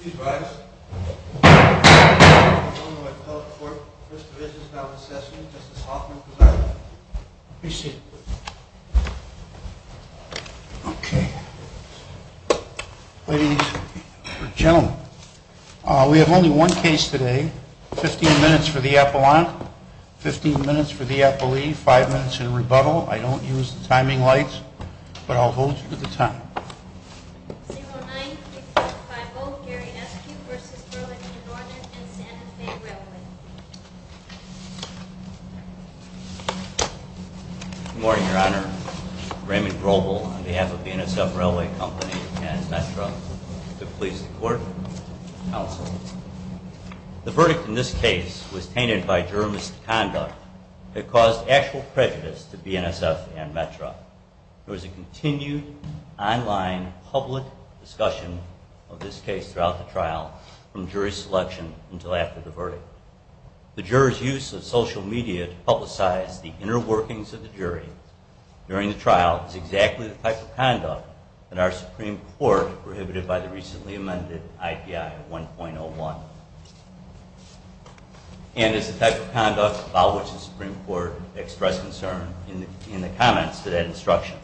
Please rise. I'm the owner of Appellate Court. First Division is now in session. Justice Hoffman presiding. Please sit. Okay. Ladies and gentlemen. We have only one case today. 15 minutes for the appellant. 15 minutes for the appellee. 5 minutes in rebuttal. I don't use the timing lights, but I'll hold you to the time. 0-9-5-0. Gary Eskew v. Burlington Northern and Santa Fe Railway. Good morning, Your Honor. Raymond Groble on behalf of BNSF Railway Company and METRA. Good police to court. Counsel. The verdict in this case was tainted by jurist conduct. It caused actual prejudice to BNSF and METRA. There was a continued online public discussion of this case throughout the trial, from jury selection until after the verdict. The juror's use of social media to publicize the inner workings of the jury during the trial is exactly the type of conduct that our Supreme Court prohibited by the recently amended IPI 1.01. And it's the type of conduct about which the Supreme Court expressed concern in the comments to that instruction.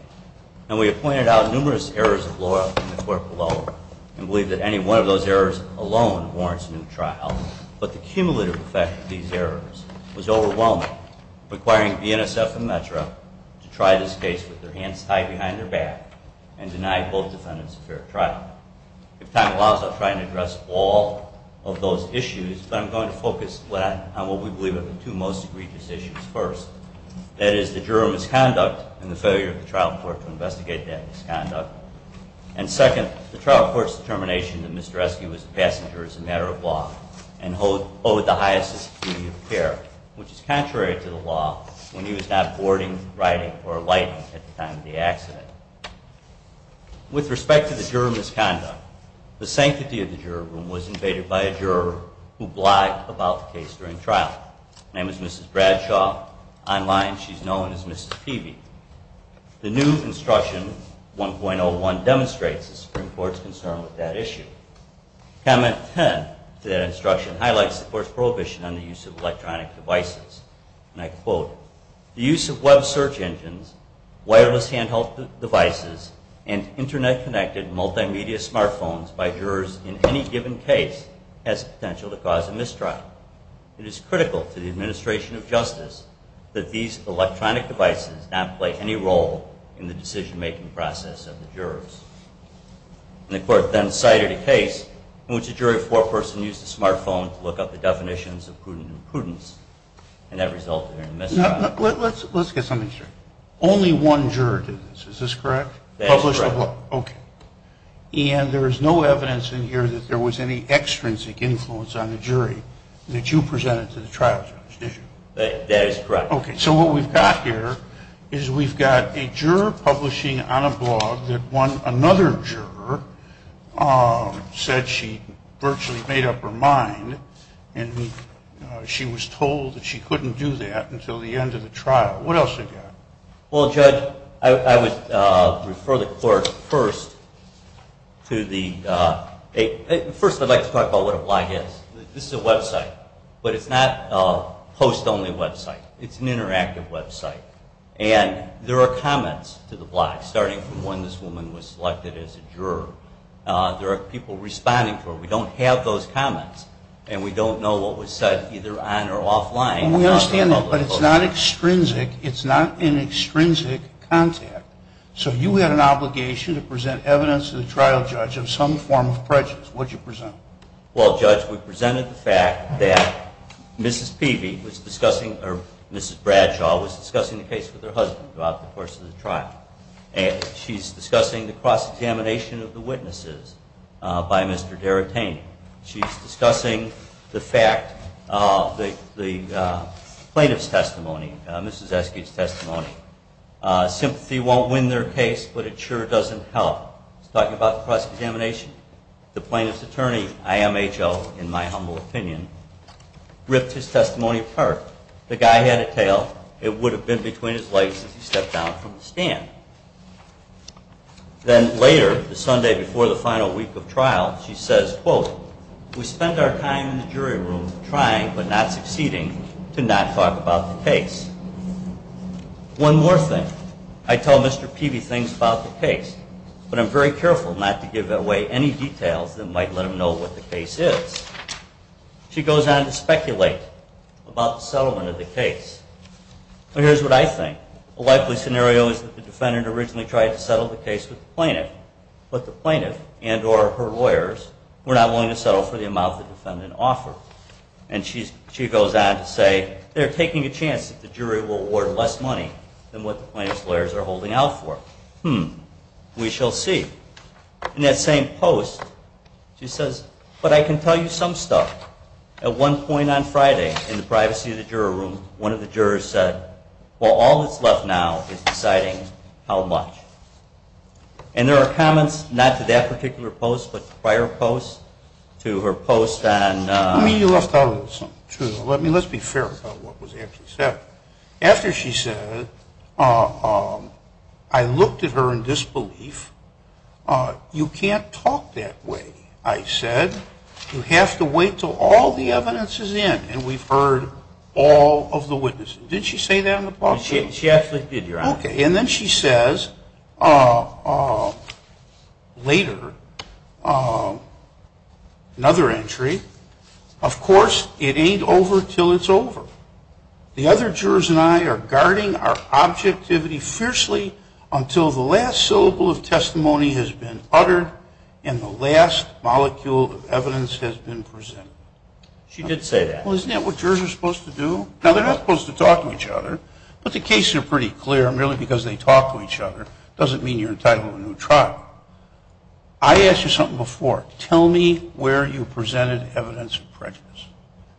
And we have pointed out numerous errors of law in the court below and believe that any one of those errors alone warrants a new trial. But the cumulative effect of these errors was overwhelming, requiring BNSF and METRA to try this case with their hands tied behind their back and deny both defendants a fair trial. If time allows, I'll try to address all of those issues, but I'm going to focus on what we believe are the two most egregious issues first. That is the juror's misconduct and the failure of the trial court to investigate that misconduct. And second, the trial court's determination that Mr. Eske was a passenger is a matter of law and owed the highest degree of care, which is contrary to the law when he was not boarding, riding, or lighting at the time of the accident. With respect to the juror's misconduct, the sanctity of the juror room was invaded by a juror who blagged about the case during trial. Name is Mrs. Bradshaw. Online, she's known as Mrs. Peavy. The new instruction 1.01 demonstrates the Supreme Court's concern with that issue. Comment 10 to that instruction highlights the court's prohibition on the use of electronic devices. And I quote, the use of web search engines, wireless handheld devices, and internet-connected multimedia smartphones by jurors in any given case has the potential to cause a mistrial. It is critical to the administration of justice that these electronic devices not play any role in the decision-making process of the jurors. And the court then cited a case in which a jury foreperson used a smartphone to look up the definitions of prudent imprudence, and that resulted in a mistrial. Let's get something straight. Only one juror did this, is this correct? That is correct. Okay. And there is no evidence in here that there was any extrinsic influence on the jury that you presented to the trial judge, did you? That is correct. Okay, so what we've got here is we've got a juror publishing on a blog that another juror said she virtually made up her mind, and she was told that she couldn't do that until the end of the trial. What else have you got? Well, Judge, I would refer the court first to the – first I'd like to talk about what a blog is. This is a website, but it's not a post-only website. It's an interactive website. And there are comments to the blog, starting from when this woman was selected as a juror. There are people responding to her. We don't have those comments, and we don't know what was said either on or offline. We understand that, but it's not extrinsic. It's not an extrinsic contact. So you had an obligation to present evidence to the trial judge of some form of prejudice. What did you present? Well, Judge, we presented the fact that Mrs. Peavy was discussing or Mrs. Bradshaw was discussing the case with her husband throughout the course of the trial, and she's discussing the cross-examination of the witnesses by Mr. D'Aretani. She's discussing the fact, the plaintiff's testimony, Mrs. Esky's testimony. Sympathy won't win their case, but it sure doesn't help. She's talking about cross-examination. The plaintiff's attorney, IMHO, in my humble opinion, ripped his testimony apart. The guy had a tail. It would have been between his legs if he stepped down from the stand. Then later, the Sunday before the final week of trial, she says, quote, We spent our time in the jury room trying but not succeeding to not talk about the case. One more thing. I tell Mr. Peavy things about the case, but I'm very careful not to give away any details that might let him know what the case is. She goes on to speculate about the settlement of the case. Here's what I think. A likely scenario is that the defendant originally tried to settle the case with the plaintiff, but the plaintiff and or her lawyers were not willing to settle for the amount the defendant offered. And she goes on to say, They're taking a chance that the jury will award less money than what the plaintiff's lawyers are holding out for. Hmm. We shall see. In that same post, she says, But I can tell you some stuff. At one point on Friday, in the privacy of the jury room, one of the jurors said, Well, all that's left now is deciding how much. And there are comments, not to that particular post, but prior posts, to her post on Let's be fair about what was actually said. After she said, I looked at her in disbelief. You can't talk that way, I said. You have to wait till all the evidence is in. And we've heard all of the witnesses. Did she say that in the post? She actually did, Your Honor. Okay. And then she says, Later, Another entry, Of course, it ain't over till it's over. The other jurors and I are guarding our objectivity fiercely until the last syllable of testimony has been uttered and the last molecule of evidence has been presented. She did say that. Well, isn't that what jurors are supposed to do? Now, they're not supposed to talk to each other, but the cases are pretty clear. Merely because they talk to each other doesn't mean you're entitled to a new trial. I asked you something before. Tell me where you presented evidence of prejudice.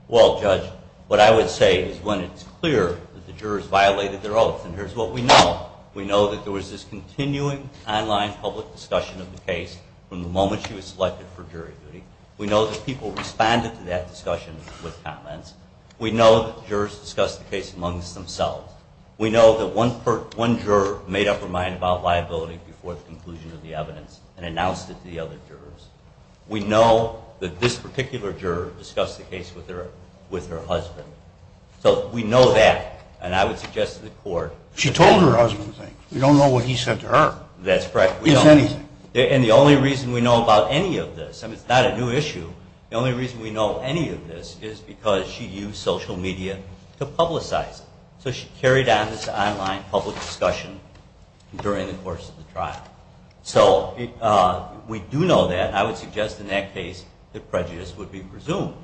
Well, Judge, what I would say is when it's clear that the jurors violated their oath, and here's what we know. We know that there was this continuing online public discussion of the case from the moment she was selected for jury duty. We know that people responded to that discussion with comments. We know that jurors discussed the case amongst themselves. We know that one juror made up her mind about liability before the conclusion of the evidence and announced it to the other jurors. We know that this particular juror discussed the case with her husband. So we know that, and I would suggest to the court. She told her husband things. We don't know what he said to her. That's correct. He didn't say anything. And the only reason we know about any of this, and it's not a new issue, the only reason we know any of this is because she used social media to publicize it. So she carried out this online public discussion during the course of the trial. So we do know that. I would suggest in that case that prejudice would be presumed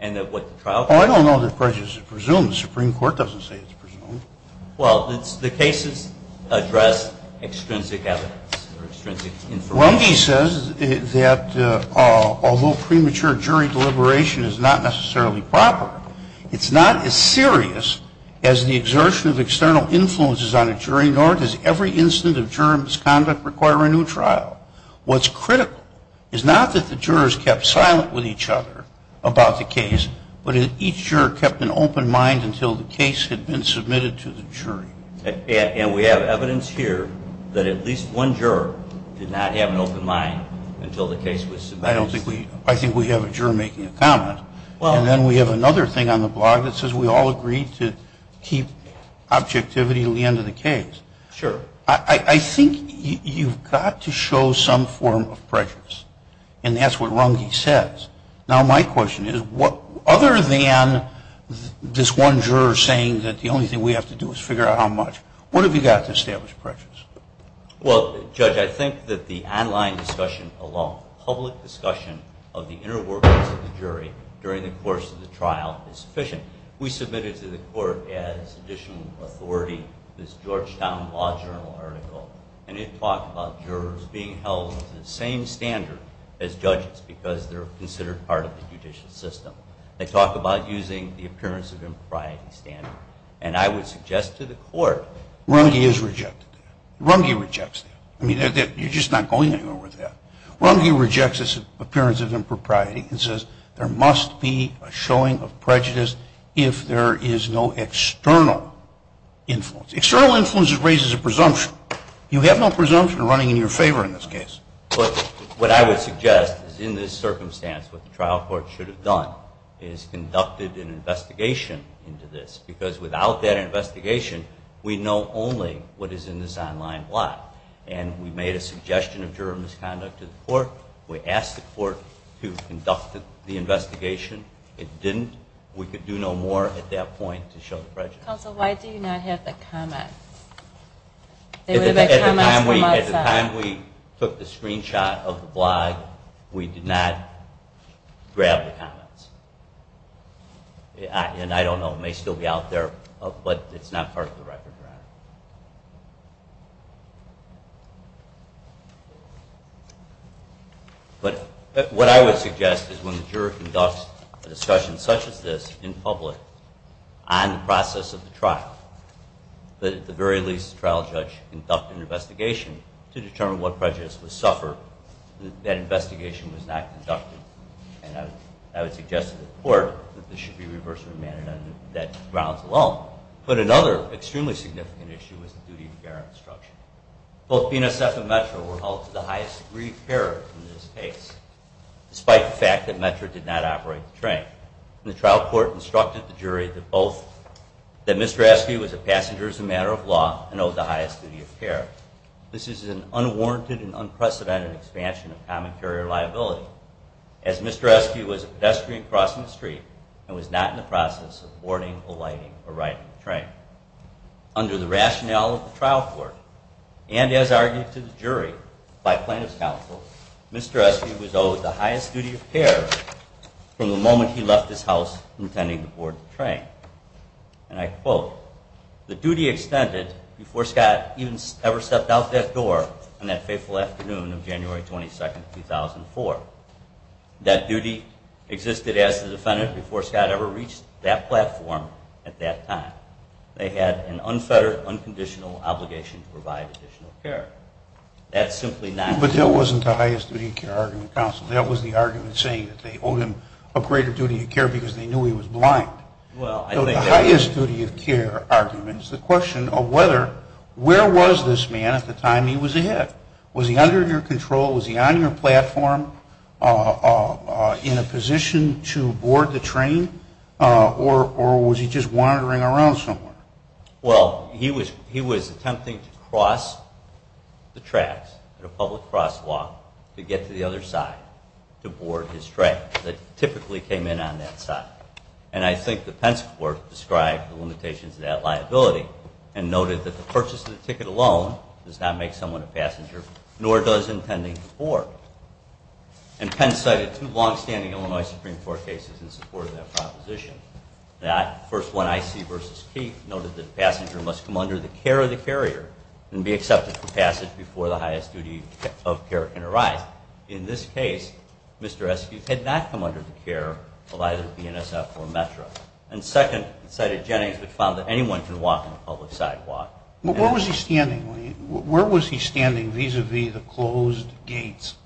and that what the trial. Oh, I don't know that prejudice is presumed. The Supreme Court doesn't say it's presumed. Well, the cases address extrinsic evidence or extrinsic information. Runge says that although premature jury deliberation is not necessarily proper, it's not as serious as the exertion of external influences on a jury, nor does every incident of juror misconduct require a new trial. What's critical is not that the jurors kept silent with each other about the case, but that each juror kept an open mind until the case had been submitted to the jury. And we have evidence here that at least one juror did not have an open mind until the case was submitted. I think we have a juror making a comment. And then we have another thing on the blog that says we all agreed to keep objectivity until the end of the case. Sure. I think you've got to show some form of prejudice. And that's what Runge says. Now, my question is, other than this one juror saying that the only thing we have to do is figure out how much, what have you got to establish prejudice? Well, Judge, I think that the online discussion alone, public discussion of the inner workings of the jury during the course of the trial is sufficient. We submitted to the court as additional authority this Georgetown Law Journal article, and it talked about jurors being held to the same standard as judges because they're considered part of the judicial system. They talk about using the appearance of impropriety standard. And I would suggest to the court that Runge is rejected. Runge rejects that. I mean, you're just not going anywhere with that. Runge rejects this appearance of impropriety and says there must be a showing of prejudice if there is no external influence. External influence raises a presumption. You have no presumption running in your favor in this case. But what I would suggest is in this circumstance what the trial court should have done is conducted an investigation into this because without that investigation, we know only what is in this online block. We asked the court to conduct the investigation. It didn't. We could do no more at that point to show the prejudice. Counsel, why do you not have the comments? At the time we took the screenshot of the blog, we did not grab the comments. And I don't know. It may still be out there, but it's not part of the record. But what I would suggest is when the juror conducts a discussion such as this in public on the process of the trial, that at the very least the trial judge conduct an investigation to determine what prejudice was suffered. That investigation was not conducted. And I would suggest to the court that this should be reversed in a manner that grounds alone. But another extremely significant issue is the duty to bear instruction. Both PNSF and METRA were held to the highest degree of care in this case, despite the fact that METRA did not operate the train. The trial court instructed the jury that Mr. Askey was a passenger as a matter of law and owed the highest duty of care. This is an unwarranted and unprecedented expansion of common carrier liability as Mr. Askey was a pedestrian crossing the street and was not in the process of boarding, alighting, or riding the train. Under the rationale of the trial court, and as argued to the jury by plaintiff's counsel, Mr. Askey was owed the highest duty of care from the moment he left his house intending to board the train. And I quote, The duty extended before Scott ever stepped out that door on that faithful afternoon of January 22, 2004. That duty existed as the defendant before Scott ever reached that platform at that time. They had an unfettered, unconditional obligation to provide additional care. That's simply not... But that wasn't the highest duty of care argument, counsel. That was the argument saying that they owed him a greater duty of care because they knew he was blind. The highest duty of care argument is the question of whether, where was this man at the time he was ahead? Was he under your control? Was he on your platform in a position to board the train? Or was he just wandering around somewhere? Well, he was attempting to cross the tracks at a public crosswalk to get to the other side to board his train that typically came in on that side. And I think the Pence court described the limitations of that liability and noted that the purchase of the ticket alone does not make someone a passenger nor does intending to board. And Pence cited two longstanding Illinois Supreme Court cases in support of that proposition. The first one, I.C. v. Keith, noted that the passenger must come under the care of the carrier and be accepted for passage before the highest duty of care can arise. In this case, Mr. Eskew had not come under the care of either BNSF or Metro. And second, he cited Jennings, which found that anyone can walk on a public sidewalk. But where was he standing? Where was he standing vis-a-vis the closed gates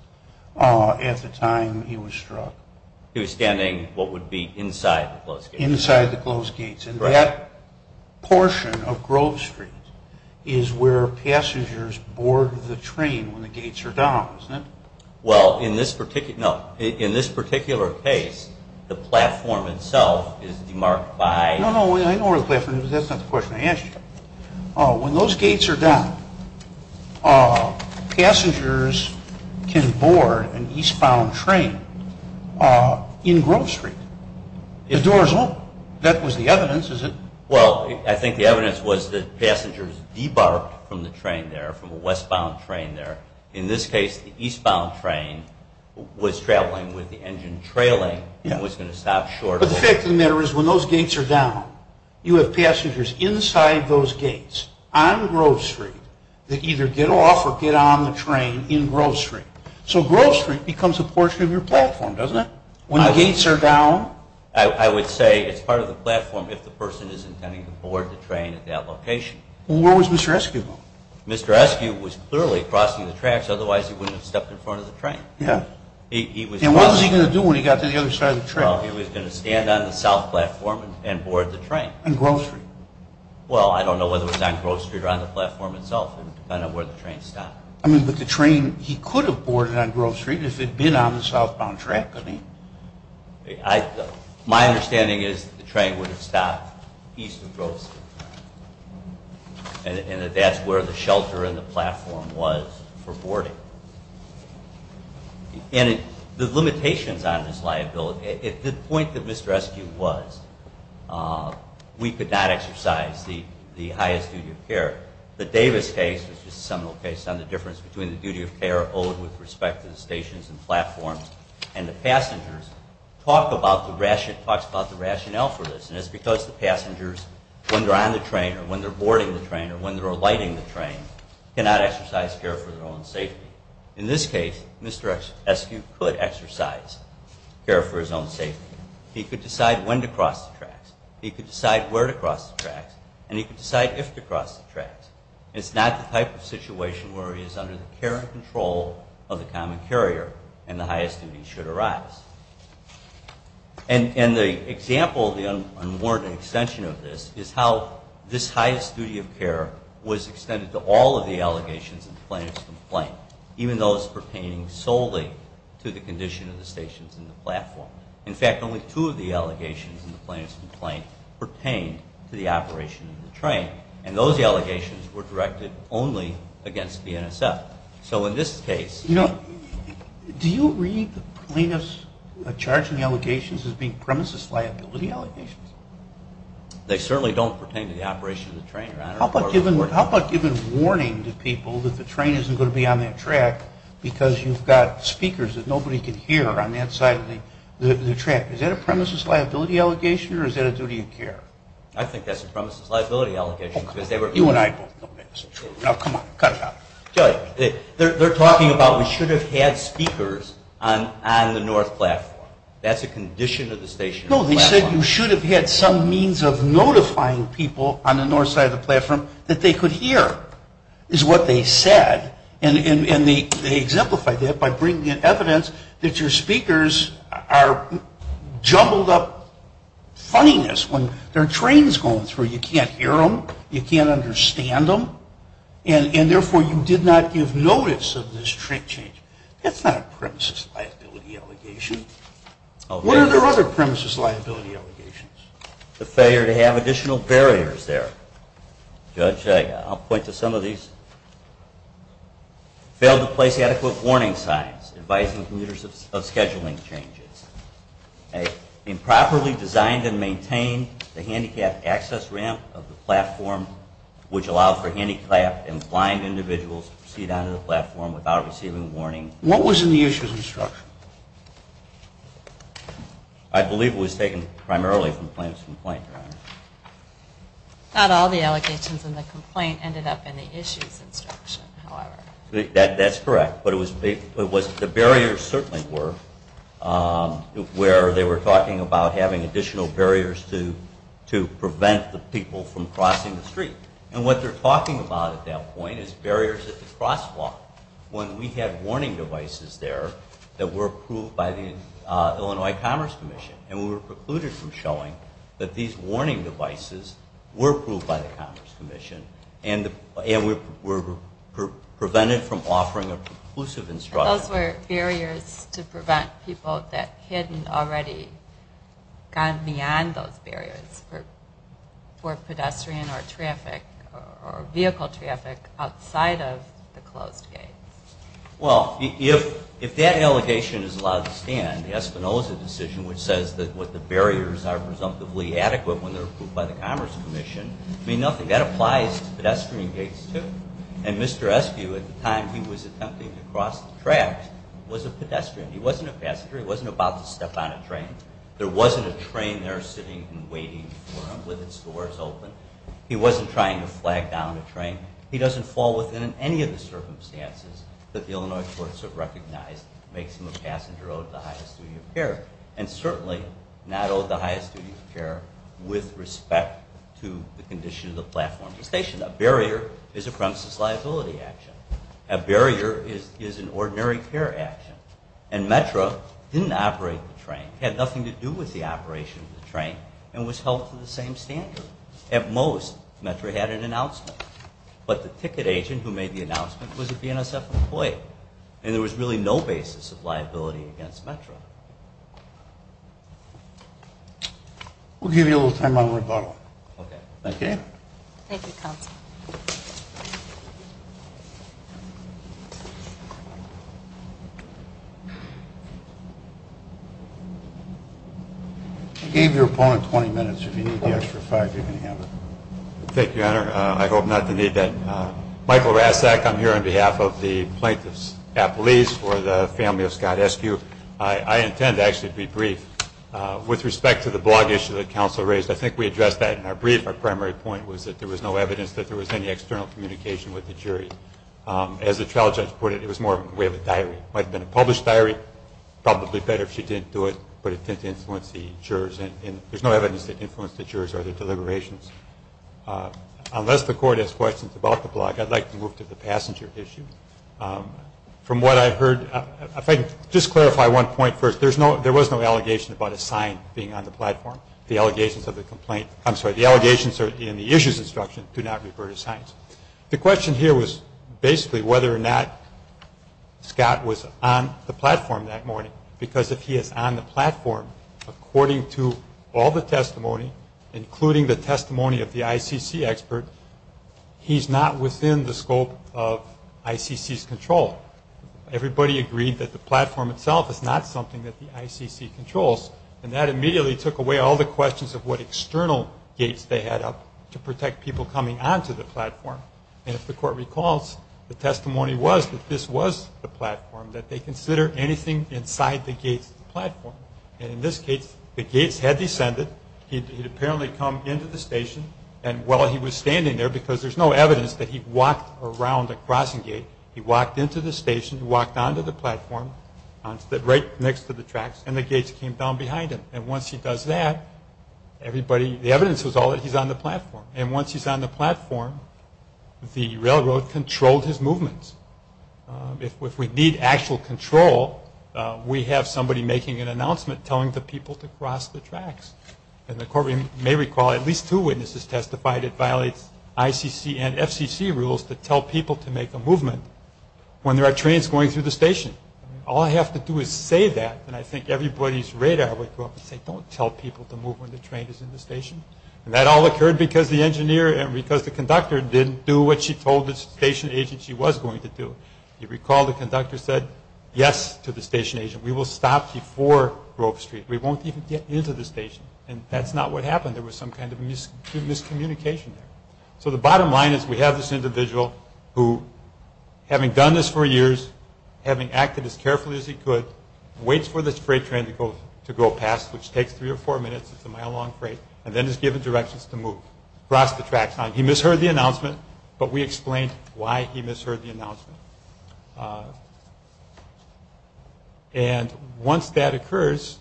at the time he was struck? He was standing what would be inside the closed gates. Inside the closed gates. And that portion of Grove Street is where passengers board the train when the gates are down, isn't it? Well, in this particular case, the platform itself is demarked by... No, no, I know where the platform is. That's not the question I asked you. When those gates are down, passengers can board an eastbound train in Grove Street. The doors won't. That was the evidence, is it? Well, I think the evidence was that passengers debarked from the train there, from a westbound train there. In this case, the eastbound train was traveling with the engine trailing and was going to stop shortly. But the fact of the matter is when those gates are down, you have passengers inside those gates on Grove Street that either get off or get on the train in Grove Street. So Grove Street becomes a portion of your platform, doesn't it? When the gates are down... I would say it's part of the platform if the person is intending to board the train at that location. Well, where was Mr. Eskew going? Mr. Eskew was clearly crossing the tracks. Otherwise, he wouldn't have stepped in front of the train. Yeah. And what was he going to do when he got to the other side of the track? Well, he was going to stand on the south platform and board the train. On Grove Street? Well, I don't know whether it was on Grove Street or on the platform itself. It would depend on where the train stopped. But the train, he could have boarded on Grove Street if it had been on the southbound track. I mean, my understanding is that the train would have stopped east of Grove Street and that that's where the shelter and the platform was for boarding. And the limitations on this liability. The point that Mr. Eskew was, we could not exercise the highest duty of care. The Davis case was just a seminal case on the difference between the duty of care owed with respect to the stations and platforms and the passengers. It talks about the rationale for this. And it's because the passengers, when they're on the train or when they're boarding the train or when they're alighting the train, cannot exercise care for their own safety. In this case, Mr. Eskew could exercise care for his own safety. He could decide when to cross the tracks. He could decide where to cross the tracks. And he could decide if to cross the tracks. It's not the type of situation where he is under the care and control of the common carrier and the highest duty should arise. And the example of the unwarranted extension of this is how this highest duty of care was extended to all of the allegations in the plaintiff's complaint, even those pertaining solely to the condition of the stations and the platform. In fact, only two of the allegations in the plaintiff's complaint pertained to the operation of the train. And those allegations were directed only against the NSF. So in this case... Do you read the plaintiff's charge in the allegations as being premises liability allegations? They certainly don't pertain to the operation of the train. How about giving warning to people that the train isn't going to be on that track because you've got speakers that nobody can hear on that side of the track. Is that a premises liability allegation or is that a duty of care? I think that's a premises liability allegation because they were... You and I both know that's true. Now, come on, cut it out. They're talking about we should have had speakers on the north platform. That's a condition of the station. No, they said you should have had some means of notifying people on the north side of the platform that they could hear is what they said. And they exemplified that by bringing in evidence that your speakers are jumbled up funniness when their train's going through. You can't hear them. You can't understand them. And therefore, you did not give notice of this train change. That's not a premises liability allegation. What are their other premises liability allegations? The failure to have additional barriers there. Judge, I'll point to some of these. Failed to place adequate warning signs advising commuters of scheduling changes. Improperly designed and maintained the handicapped access ramp of the platform which allowed for handicapped and blind individuals to proceed onto the platform without receiving warning. What was in the issues instruction? I believe it was taken primarily from the plaintiff's complaint, Your Honor. Not all the allegations in the complaint ended up in the issues instruction, however. That's correct. The barriers certainly were where they were talking about having additional barriers to prevent the people from crossing the street. And what they're talking about at that point is barriers at the crosswalk when we had warning devices there that were approved by the Illinois Commerce Commission. And we were precluded from showing that these warning devices were approved by the Commerce Commission. And we were prevented from offering a conclusive instruction. Those were barriers to prevent people that hadn't already gone beyond those barriers for pedestrian or traffic or vehicle traffic outside of the closed gates. Well, if that allegation is allowed to stand, the Espinoza decision, which says that what the barriers are presumptively adequate when they're approved by the Commerce Commission, mean nothing. That applies to pedestrian gates, too. And Mr. Eskew, at the time he was attempting to cross the tracks, was a pedestrian. He wasn't a passenger. He wasn't about to step on a train. There wasn't a train there sitting and waiting for him with its doors open. He wasn't trying to flag down a train. He doesn't fall within any of the circumstances that the Illinois courts have recognized makes him a passenger owed the highest duty of care, and certainly not owed the highest duty of care with respect to the condition of the platform of the station. A barrier is a premises liability action. A barrier is an ordinary care action. And METRA didn't operate the train, had nothing to do with the operation of the train, and was held to the same standard. At most, METRA had an announcement. But the ticket agent who made the announcement was a DNSF employee. And there was really no basis of liability against METRA. We'll give you a little time on rebuttal. Okay. Thank you. Thank you, Counsel. I gave your opponent 20 minutes. If you need the extra five, you can have it. Thank you, Honor. I hope not to need that. Michael Rasak. I'm here on behalf of the plaintiff's appellees for the family of Scott Eskew. I intend to actually be brief. With respect to the blog issue that Counsel raised, I think we addressed that in our brief. Our primary point was that there was no evidence that there was any external communication with the jury. As the trial judge put it, it was more a way of a diary. It might have been a published diary. Probably better if she didn't do it, but it didn't influence the jurors. And there's no evidence that it influenced the jurors or their deliberations. Unless the court has questions about the blog, I'd like to move to the passenger issue. From what I heard, if I can just clarify one point first, there was no allegation about a sign being on the platform. The allegations of the complaint, I'm sorry, the allegations in the issues instruction do not refer to signs. The question here was basically whether or not Scott was on the platform that morning, because if he is on the platform, according to all the testimony, including the testimony of the ICC expert, he's not within the scope of ICC's control. Everybody agreed that the platform itself is not something that the ICC controls, and that immediately took away all the questions of what external gates they had up to protect people coming onto the platform. And if the court recalls, the testimony was that this was the platform, that they consider anything inside the gates the platform. And in this case, the gates had descended. He'd apparently come into the station. And while he was standing there, because there's no evidence that he walked around the crossing gate, he walked into the station, he walked onto the platform, right next to the tracks, and the gates came down behind him. And once he does that, everybody, the evidence was all that he's on the platform. And once he's on the platform, the railroad controlled his movements. If we need actual control, we have somebody making an announcement, telling the people to cross the tracks. And the court may recall at least two witnesses testified it violates ICC and FCC rules to tell people to make a movement when there are trains going through the station. All I have to do is say that, and I think everybody's radar would go up and say, don't tell people to move when the train is in the station. And that all occurred because the engineer and because the conductor didn't do what she told the station agent she was going to do. If you recall, the conductor said yes to the station agent. We will stop before Grove Street. We won't even get into the station. And that's not what happened. There was some kind of miscommunication there. So the bottom line is we have this individual who, having done this for years, having acted as carefully as he could, waits for this freight train to go past, which takes three or four minutes, it's a mile-long freight, and then is given directions to move across the tracks. He misheard the announcement, but we explained why he misheard the announcement. And once that occurs,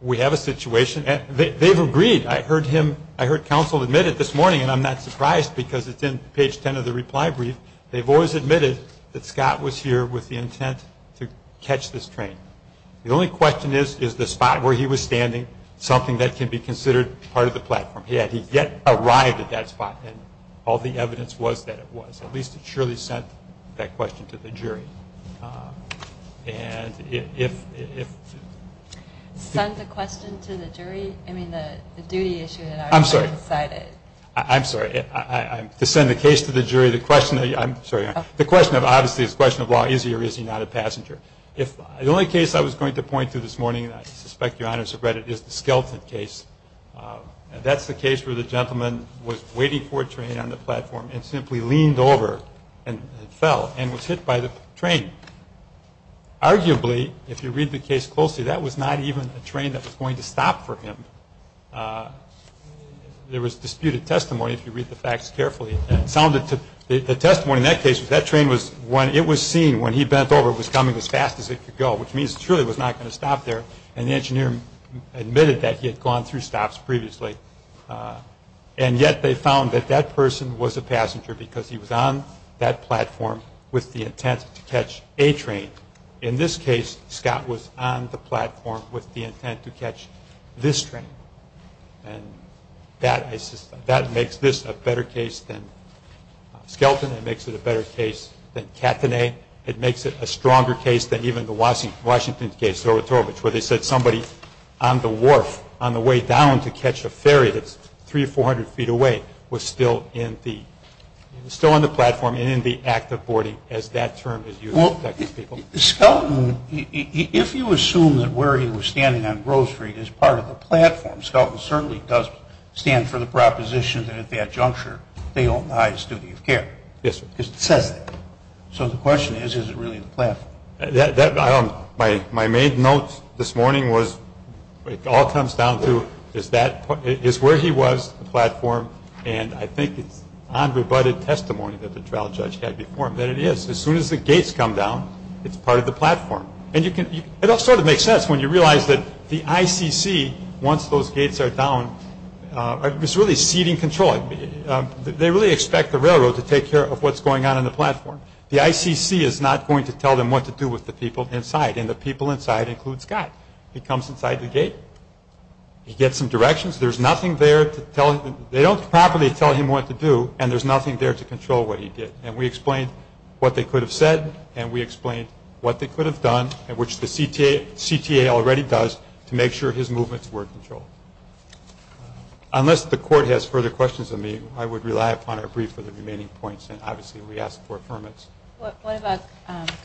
we have a situation. They've agreed. I heard him, I heard counsel admit it this morning, and I'm not surprised because it's in page 10 of the reply brief. They've always admitted that Scott was here with the intent to catch this train. The only question is, is the spot where he was standing something that can be considered part of the platform? He had yet arrived at that spot, and all the evidence was that it was. At least it surely sent that question to the jury. And if… Sent the question to the jury? I mean, the duty issue that I already cited. I'm sorry. I'm sorry. To send the case to the jury, the question – Obviously, it's a question of law. Is he or is he not a passenger? The only case I was going to point to this morning, and I suspect your honors have read it, is the Skelton case. That's the case where the gentleman was waiting for a train on the platform and simply leaned over and fell and was hit by the train. Arguably, if you read the case closely, that was not even a train that was going to stop for him. There was disputed testimony, if you read the facts carefully. The testimony in that case was that train was – Which means it surely was not going to stop there, and the engineer admitted that he had gone through stops previously. And yet they found that that person was a passenger because he was on that platform with the intent to catch a train. In this case, Scott was on the platform with the intent to catch this train. And that makes this a better case than Skelton. It makes it a better case than Katané. It makes it a stronger case than even the Washington case, where they said somebody on the wharf, on the way down to catch a ferry that's 300 or 400 feet away, was still on the platform and in the act of boarding, as that term is used by these people. Well, Skelton, if you assume that where he was standing on Grove Street is part of the platform, Skelton certainly does stand for the proposition that at that juncture they own the highest duty of care. Yes, sir. Because it says that. So the question is, is it really the platform? My main note this morning was, it all comes down to, is where he was the platform? And I think it's unrebutted testimony that the trial judge had before him that it is. As soon as the gates come down, it's part of the platform. And it all sort of makes sense when you realize that the ICC, once those gates are down, is really ceding control. They really expect the railroad to take care of what's going on in the platform. The ICC is not going to tell them what to do with the people inside, and the people inside include Scott. He comes inside the gate. He gets some directions. There's nothing there to tell him. They don't properly tell him what to do, and there's nothing there to control what he did. And we explained what they could have said, and we explained what they could have done, and which the CTA already does to make sure his movements were controlled. Unless the Court has further questions of me, I would rely upon our brief for the remaining points, and obviously we ask for affirmance. What about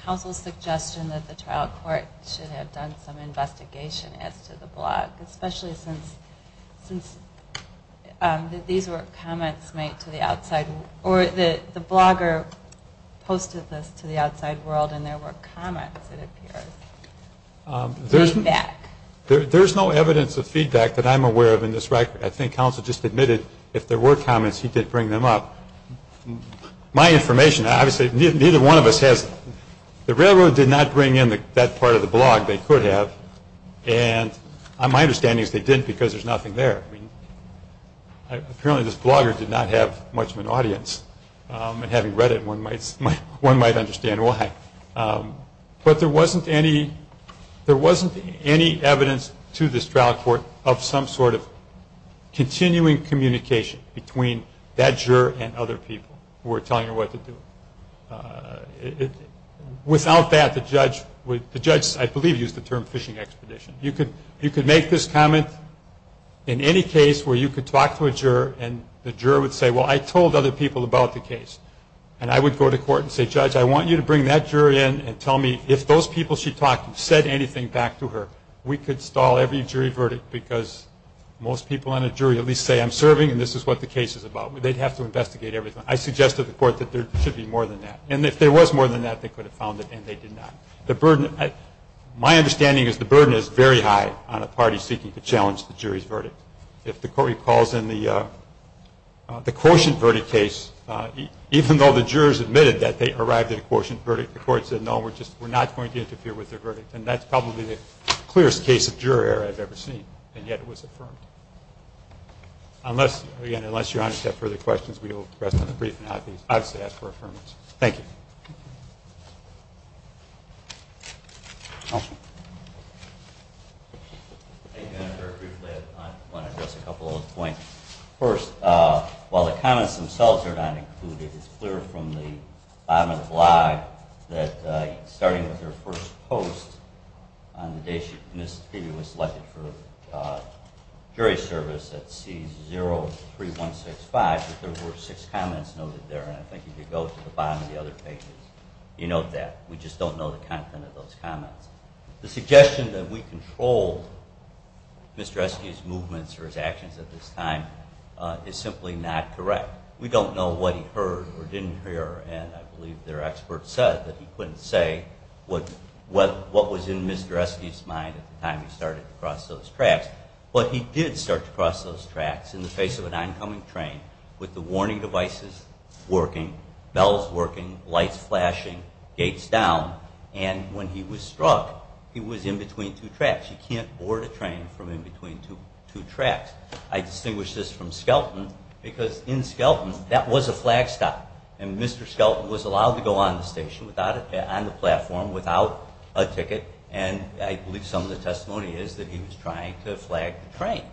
counsel's suggestion that the trial court should have done some investigation as to the blog, especially since these were comments made to the outside world or the blogger posted this to the outside world, and there were comments, it appears, feedback. There's no evidence of feedback that I'm aware of in this record. I think counsel just admitted if there were comments, he did bring them up. My information, obviously, neither one of us has. The railroad did not bring in that part of the blog they could have, and my understanding is they didn't because there's nothing there. Apparently this blogger did not have much of an audience, and having read it, one might understand why. But there wasn't any evidence to this trial court of some sort of continuing communication between that juror and other people who were telling her what to do. Without that, the judge, I believe, used the term fishing expedition. You could make this comment in any case where you could talk to a juror and the juror would say, well, I told other people about the case, and I would go to court and say, judge, I want you to bring that juror in and tell me if those people she talked to said anything back to her. We could stall every jury verdict because most people on a jury at least say, I'm serving and this is what the case is about. They'd have to investigate everything. I suggest to the court that there should be more than that, and if there was more than that, they could have found it and they did not. My understanding is the burden is very high on a party seeking to challenge the jury's verdict. If the court recalls in the quotient verdict case, even though the jurors admitted that they arrived at a quotient verdict, the court said, no, we're not going to interfere with their verdict, and that's probably the clearest case of juror error I've ever seen, and yet it was affirmed. Again, unless Your Honor has further questions, we will rest on the brief and obviously ask for affirmation. Thank you. Thank you, Your Honor. Very briefly, I want to address a couple of points. First, while the comments themselves are not included, it is clear from the bottom of the blog that starting with her first post, on the day she was selected for jury service at C03165, that there were six comments noted there, and I think if you go to the bottom of the other pages, you note that. We just don't know the content of those comments. The suggestion that we controlled Mr. Eske's movements or his actions at this time is simply not correct. We don't know what he heard or didn't hear, and I believe their expert said that he couldn't say what was in Mr. Eske's mind at the time he started to cross those tracks. But he did start to cross those tracks in the face of an oncoming train with the warning devices working, bells working, lights flashing, gates down, and when he was struck, he was in between two tracks. You can't board a train from in between two tracks. I distinguish this from Skelton, because in Skelton, that was a flag stop, and Mr. Skelton was allowed to go on the platform without a ticket, and I believe some of the testimony is that he was trying to flag the train.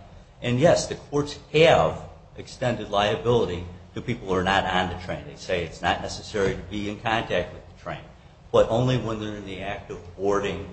And yes, the courts have extended liability to people who are not on the train. They say it's not necessary to be in contact with the train, but only when they're in the act of boarding,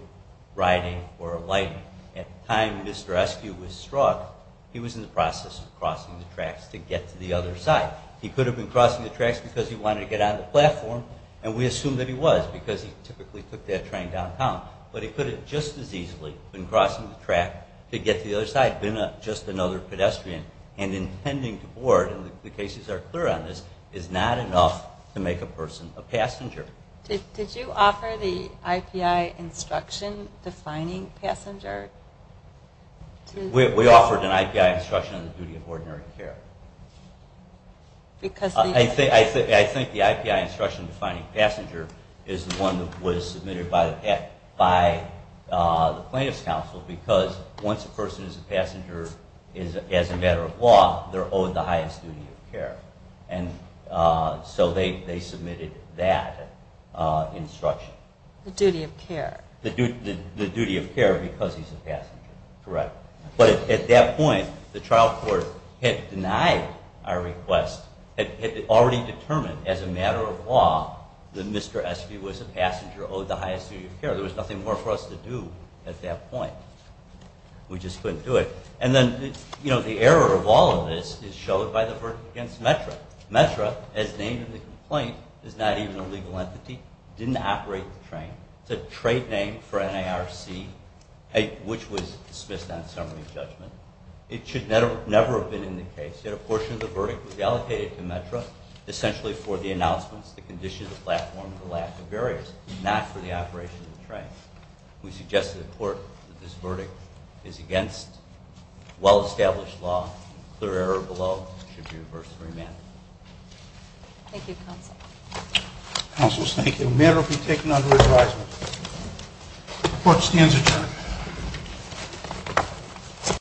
riding, or lighting. At the time Mr. Eske was struck, he was in the process of crossing the tracks to get to the other side. He could have been crossing the tracks because he wanted to get on the platform, and we assume that he was, because he typically took that train downtown. But he could have just as easily been crossing the track to get to the other side, been just another pedestrian, and intending to board, and the cases are clear on this, is not enough to make a person a passenger. Did you offer the IPI instruction defining passenger? We offered an IPI instruction on the duty of ordinary care. I think the IPI instruction defining passenger is the one that was submitted by the plaintiff's counsel, because once a person is a passenger, as a matter of law, they're owed the highest duty of care. So they submitted that instruction. The duty of care. The duty of care because he's a passenger, correct. But at that point, the trial court had denied our request, had already determined as a matter of law that Mr. Eske was a passenger, owed the highest duty of care. There was nothing more for us to do at that point. We just couldn't do it. And then the error of all of this is shown by the verdict against METRA. METRA, as named in the complaint, is not even a legal entity. It didn't operate the train. It's a trade name for NARC, which was dismissed on summary judgment. It should never have been in the case, yet a portion of the verdict was allocated to METRA, essentially for the announcements, the condition of the platform, and the lack of barriers, not for the operation of the train. We suggest to the court that this verdict is against well-established law. Clear error below should be reversed and remanded. Thank you, Counsel. Counsel, thank you. The matter will be taken under advisement. The court stands adjourned.